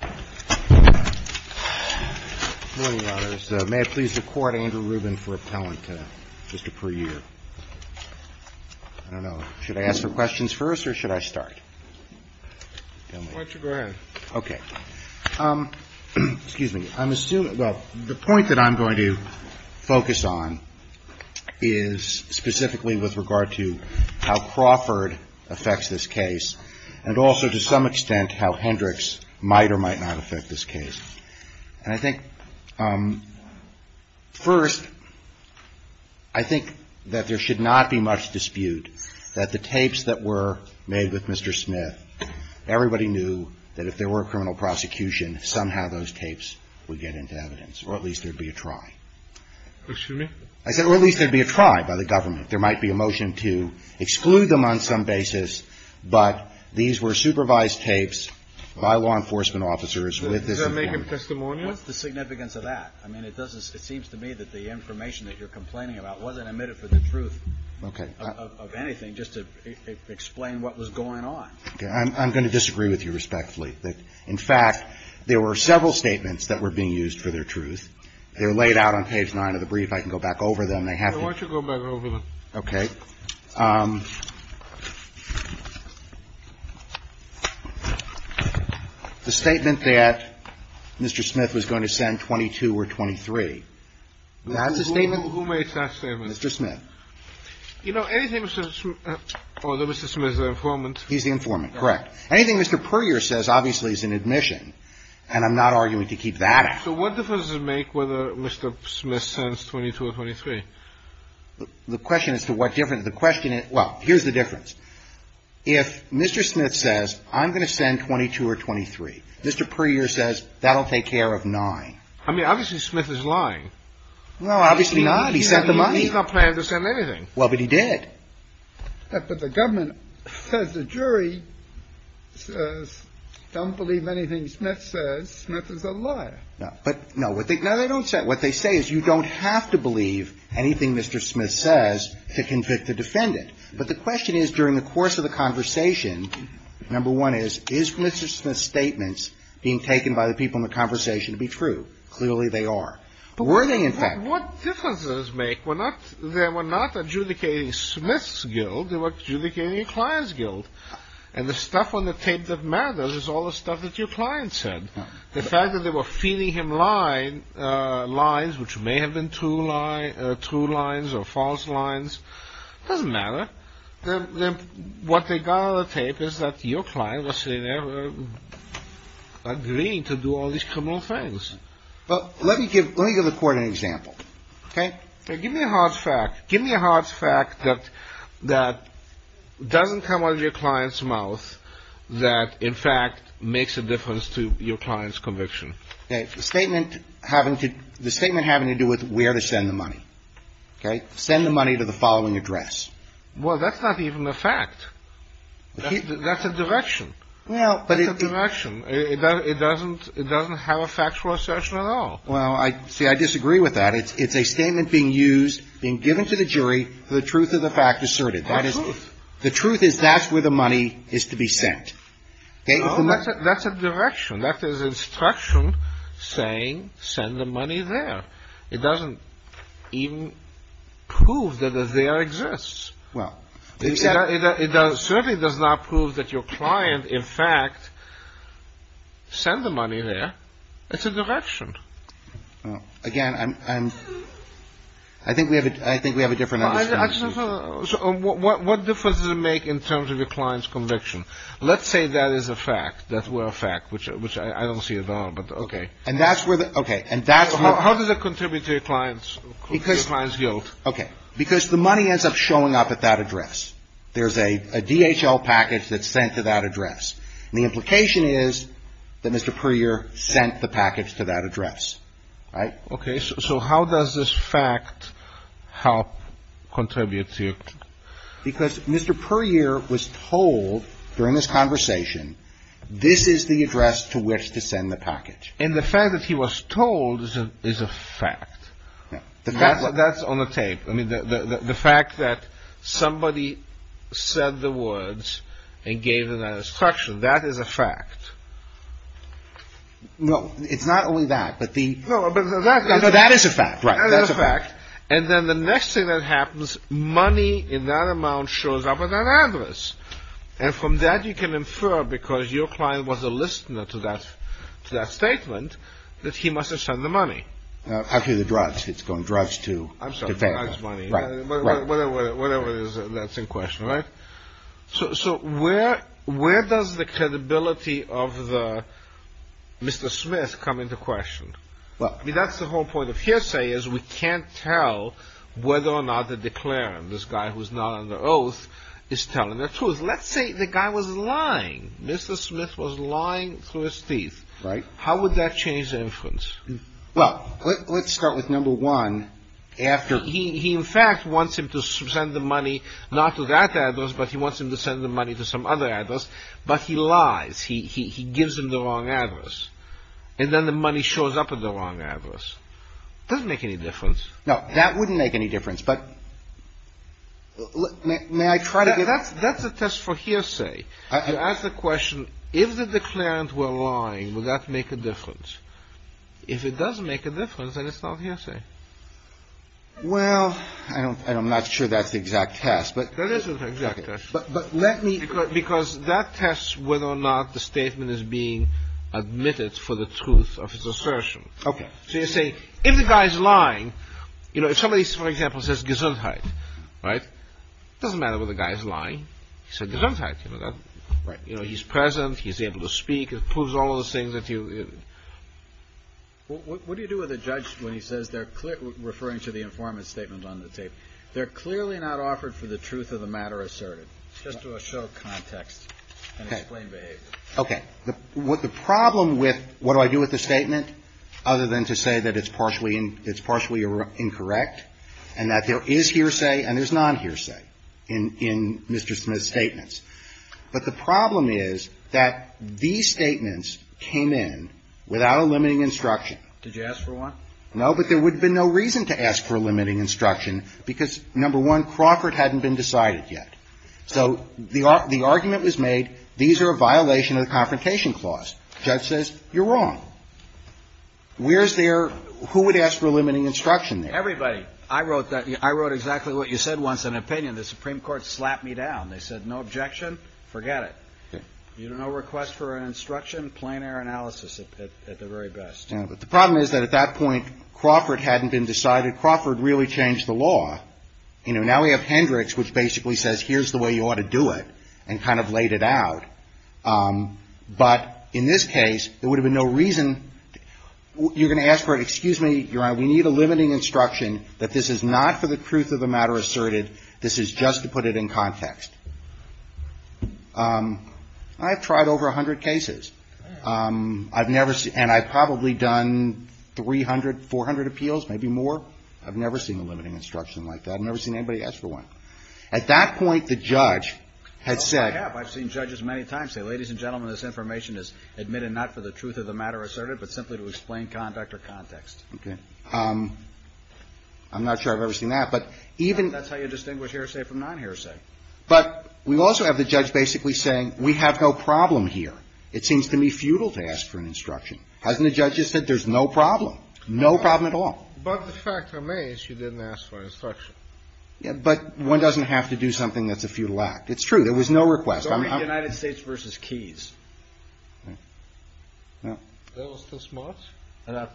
I don't know. Should I ask for questions first, or should I start? Why don't you go ahead. Okay. Excuse me. I'm assuming, well, the point that I'm going to focus on is specifically with regard to how Crawford affects this case and also to some extent how Hendricks might or might not affect this case. And I think first, I think that there should not be much dispute that the tapes that were made with Mr. Smith, everybody knew that if there were a criminal prosecution, somehow those tapes would get into evidence, or at least there'd be a try. Excuse me? I said, well, at least there'd be a try by the government. There might be a motion to exclude them on some basis, but these were supervised tapes by law enforcement officers with this information. Does that make it testimonial? What's the significance of that? I mean, it doesn't seem to me that the information that you're complaining about wasn't admitted for the truth of anything, just to explain what was going on. Okay. I'm going to disagree with you respectfully. In fact, there were several statements that were being used for their truth. They were laid out on page 9 of the brief. I can go back over them. Why don't you go back over them? Okay. The statement that Mr. Smith was going to send 22 or 23, that's the statement? Who made that statement? Mr. Smith. You know, anything Mr. Smith or the Mr. Smith, the informant. He's the informant, correct. Anything Mr. Puryear says obviously is an admission, and I'm not arguing to keep that out. So what difference does it make whether Mr. Smith sends 22 or 23? The question as to what difference, the question is, well, here's the difference. If Mr. Smith says, I'm going to send 22 or 23, Mr. Puryear says, that'll take care of 9. I mean, obviously Smith is lying. Well, obviously not. He sent the money. He's not planning to send anything. Well, but he did. But the government says the jury says, don't believe anything Smith says. Smith is a liar. No. But, no, what they don't say, what they say is you don't have to believe anything Mr. Smith says to convict the defendant. But the question is, during the course of the conversation, number one is, is Mr. Smith's statements being taken by the people in the conversation to be true? Clearly they are. Were they, in fact? What difference does it make? They were not adjudicating Smith's guilt. They were adjudicating your client's guilt. And the stuff on the tape that matters is all the stuff that your client said. The fact that they were feeding him lies, which may have been true lies or false lies, doesn't matter. What they got on the tape is that your client was agreeing to do all these criminal things. Well, let me give the Court an example. Okay. Give me a hard fact. Give me a hard fact that doesn't come out of your client's mouth that, in fact, makes a difference to your client's conviction. Okay. The statement having to do with where to send the money. Okay. Send the money to the following address. Well, that's not even a fact. That's a direction. That's a direction. It doesn't have a factual assertion at all. Well, see, I disagree with that. It's a statement being used, being given to the jury for the truth of the fact asserted. The truth. The truth is that's where the money is to be sent. That's a direction. That is instruction saying send the money there. It doesn't even prove that the there exists. It certainly does not prove that your client, in fact, sent the money there. It's a direction. Again, I think we have a different understanding. What difference does it make in terms of your client's conviction? Let's say that is a fact, that we're a fact, which I don't see at all, but okay. Okay. How does it contribute to your client's guilt? Okay. Because the money ends up showing up at that address. There's a DHL package that's sent to that address. And the implication is that Mr. Puryear sent the package to that address. Right? Okay. So how does this fact help contribute to your client? Because Mr. Puryear was told during this conversation this is the address to which to send the package. And the fact that he was told is a fact. That's on the tape. I mean, the fact that somebody said the words and gave them that instruction, that is a fact. No, it's not only that. No, but that is a fact. Right. That is a fact. And then the next thing that happens, money in that amount shows up at that address. And from that you can infer, because your client was a listener to that statement, that he must have sent the money. After the drudge, it's going drudge to the family. I'm sorry, not his money. Right. Whatever it is, that's in question, right? So where does the credibility of Mr. Smith come into question? I mean, that's the whole point of hearsay is we can't tell whether or not the declarant, this guy who's not under oath, is telling the truth. Let's say the guy was lying. Mr. Smith was lying through his teeth. Right. How would that change the inference? Well, let's start with number one. He, in fact, wants him to send the money not to that address, but he wants him to send the money to some other address. But he lies. He gives him the wrong address. And then the money shows up at the wrong address. It doesn't make any difference. No, that wouldn't make any difference. That's a test for hearsay. You ask the question, if the declarant were lying, would that make a difference? If it does make a difference, then it's not hearsay. Well, I'm not sure that's the exact test. That is the exact test. But let me... Because that tests whether or not the statement is being admitted for the truth of his assertion. Okay. So you say, if the guy's lying, you know, if somebody, for example, says Gesundheit, right, it doesn't matter whether the guy's lying. He said Gesundheit. Right. You know, he's present. He's able to speak. It proves all those things that you... What do you do with a judge when he says they're referring to the informant's statement on the tape? They're clearly not offered for the truth of the matter asserted. Just to show context and explain behavior. Okay. What the problem with what do I do with the statement other than to say that it's partially incorrect and that there is hearsay and there's nonhearsay in Mr. Smith's statements. But the problem is that these statements came in without a limiting instruction. Did you ask for one? No, but there would have been no reason to ask for a limiting instruction because, number one, Crawford hadn't been decided yet. So the argument was made, these are a violation of the Confrontation Clause. The judge says, you're wrong. Where's their who would ask for a limiting instruction there? Everybody. I wrote exactly what you said once in an opinion. The Supreme Court slapped me down. They said, no objection. Forget it. No request for an instruction. Plain air analysis at the very best. The problem is that at that point Crawford hadn't been decided. Crawford really changed the law. Now we have Hendricks, which basically says here's the way you ought to do it and kind of laid it out. But in this case, there would have been no reason. You're going to ask for it. Excuse me, Your Honor. We need a limiting instruction that this is not for the truth of the matter asserted. This is just to put it in context. I've tried over 100 cases. I've never seen and I've probably done 300, 400 appeals, maybe more. I've never seen a limiting instruction like that. I've never seen anybody ask for one. At that point, the judge had said. I've seen judges many times say, ladies and gentlemen, this information is admitted not for the truth of the matter asserted, but simply to explain conduct or context. Okay. I'm not sure I've ever seen that. But even. That's how you distinguish hearsay from non-hearsay. But we also have the judge basically saying we have no problem here. It seems to me futile to ask for an instruction. Hasn't the judge just said there's no problem? No problem at all. But the fact remains you didn't ask for an instruction. Yeah, but one doesn't have to do something that's a futile act. It's true. There was no request. It's only the United States v. Keyes. No.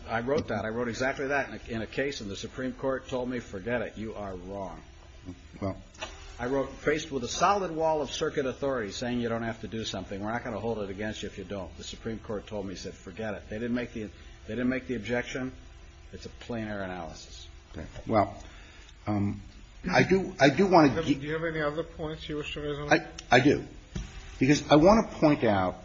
I wrote that. I wrote exactly that in a case. And the Supreme Court told me, forget it. You are wrong. Well, I wrote faced with a solid wall of circuit authority saying you don't have to do something. We're not going to hold it against you if you don't. The Supreme Court told me, said, forget it. They didn't make the they didn't make the objection. It's a plein air analysis. Well, I do. I do want to. Do you have any other points you wish to make? I do. I do. Because I want to point out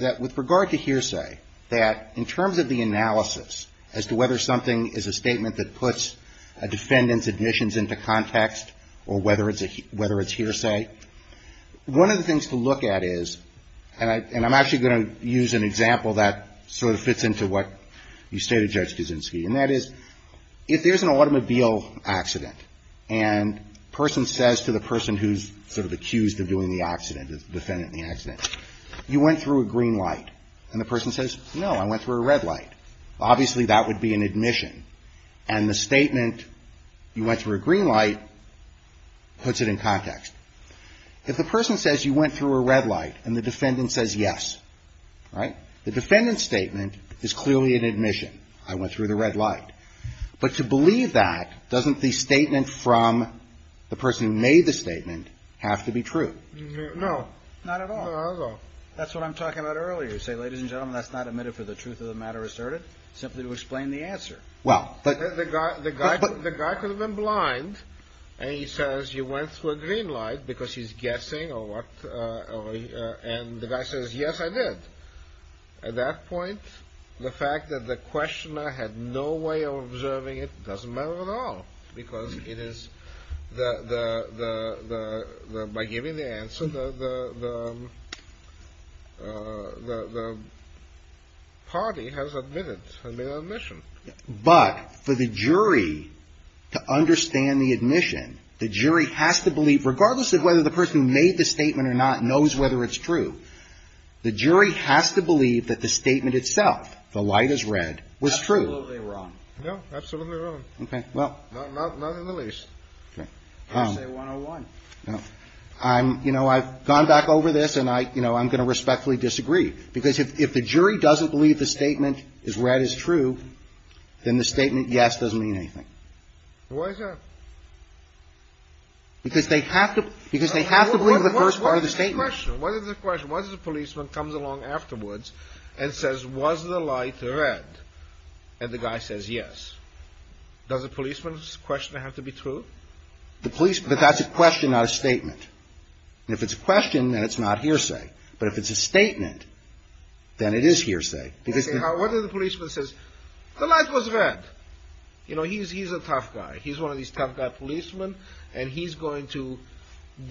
that with regard to hearsay, that in terms of the analysis as to whether something is a statement that puts a defendant's admissions into context or whether it's hearsay, one of the things to look at is, and I'm actually going to use an example that sort of fits into what you stated, Judge Kuczynski, and that is if there's an automobile accident and a person says to the person who's sort of accused of doing the accident, the defendant in the accident, you went through a green light. And the person says, no, I went through a red light. Obviously, that would be an admission. And the statement, you went through a green light, puts it in context. If the person says you went through a red light and the defendant says yes, right, the defendant's statement is clearly an admission. I went through the red light. But to believe that, doesn't the statement from the person who made the statement have to be true? No. Not at all. Not at all. That's what I'm talking about earlier. You say, ladies and gentlemen, that's not admitted for the truth of the matter asserted. Simply to explain the answer. Well, but. The guy could have been blind and he says you went through a green light because he's guessing or what, and the guy says, yes, I did. At that point, the fact that the questioner had no way of observing it doesn't matter at all. Because it is the, by giving the answer, the party has admitted, has made an admission. But for the jury to understand the admission, the jury has to believe, regardless of whether the person made the statement or not knows whether it's true. The jury has to believe that the statement itself, the light is red, was true. Absolutely wrong. No, absolutely wrong. Okay. Well. Not in the least. Okay. I say 101. No. I'm, you know, I've gone back over this and I, you know, I'm going to respectfully disagree. Because if the jury doesn't believe the statement is red is true, then the statement yes doesn't mean anything. Why is that? Because they have to, because they have to believe the first part of the statement. What is the question? What is the question? What if the policeman comes along afterwards and says, was the light red? And the guy says yes. Does the policeman's question have to be true? The police, but that's a question, not a statement. And if it's a question, then it's not hearsay. But if it's a statement, then it is hearsay. What if the policeman says, the light was red? You know, he's a tough guy. He's one of these tough guy policemen, and he's going to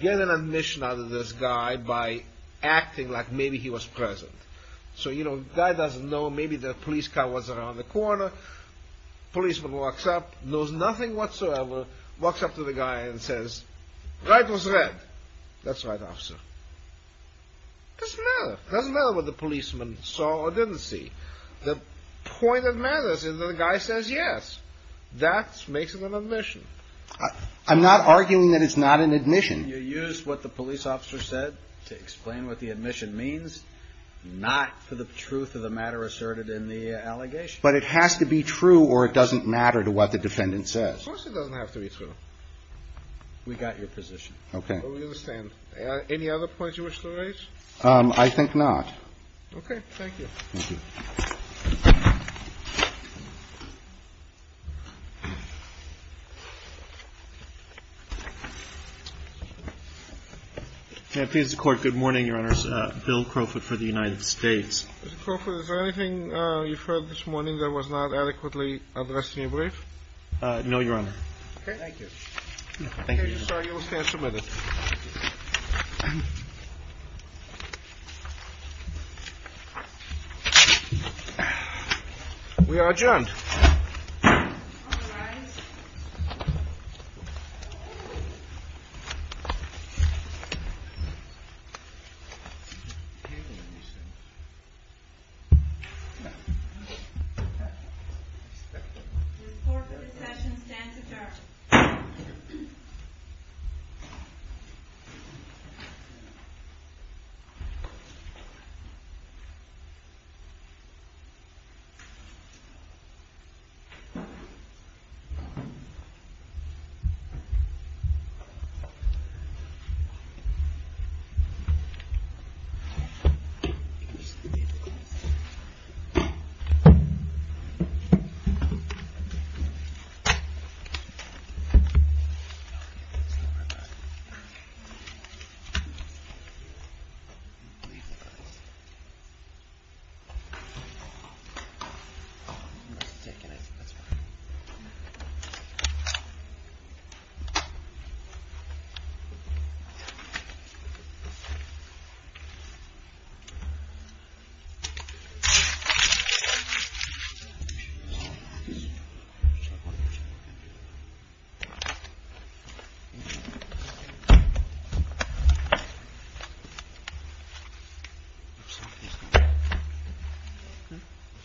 get an admission out of this guy by acting like maybe he was present. So, you know, the guy doesn't know. Maybe the police car was around the corner. The policeman walks up, knows nothing whatsoever, walks up to the guy and says, light was red. That's right, officer. It doesn't matter. It doesn't matter what the policeman saw or didn't see. The point that matters is that the guy says yes. That makes it an admission. I'm not arguing that it's not an admission. You used what the police officer said to explain what the admission means, not to the truth of the matter asserted in the allegation. But it has to be true or it doesn't matter to what the defendant says. Of course it doesn't have to be true. We got your position. Okay. We understand. Any other points you wish to raise? I think not. Okay. Thank you. Thank you. And please record, good morning, your Honor's Bill Crawford for the United States. Is there anything you've heard this morning that was not adequately addressed in your brief? No, your Honor. Thank you. Thank you. Thank you, sir. The bill stands submitted. We are adjourned. All rise. The Court of Accessions stands adjourned.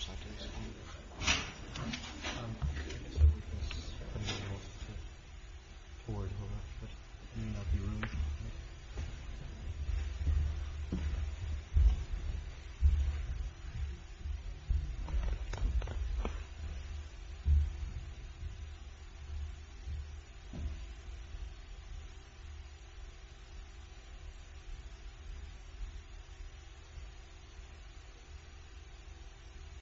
Thank you. Thank you. Thank you. Thank you. Thank you. Thank you.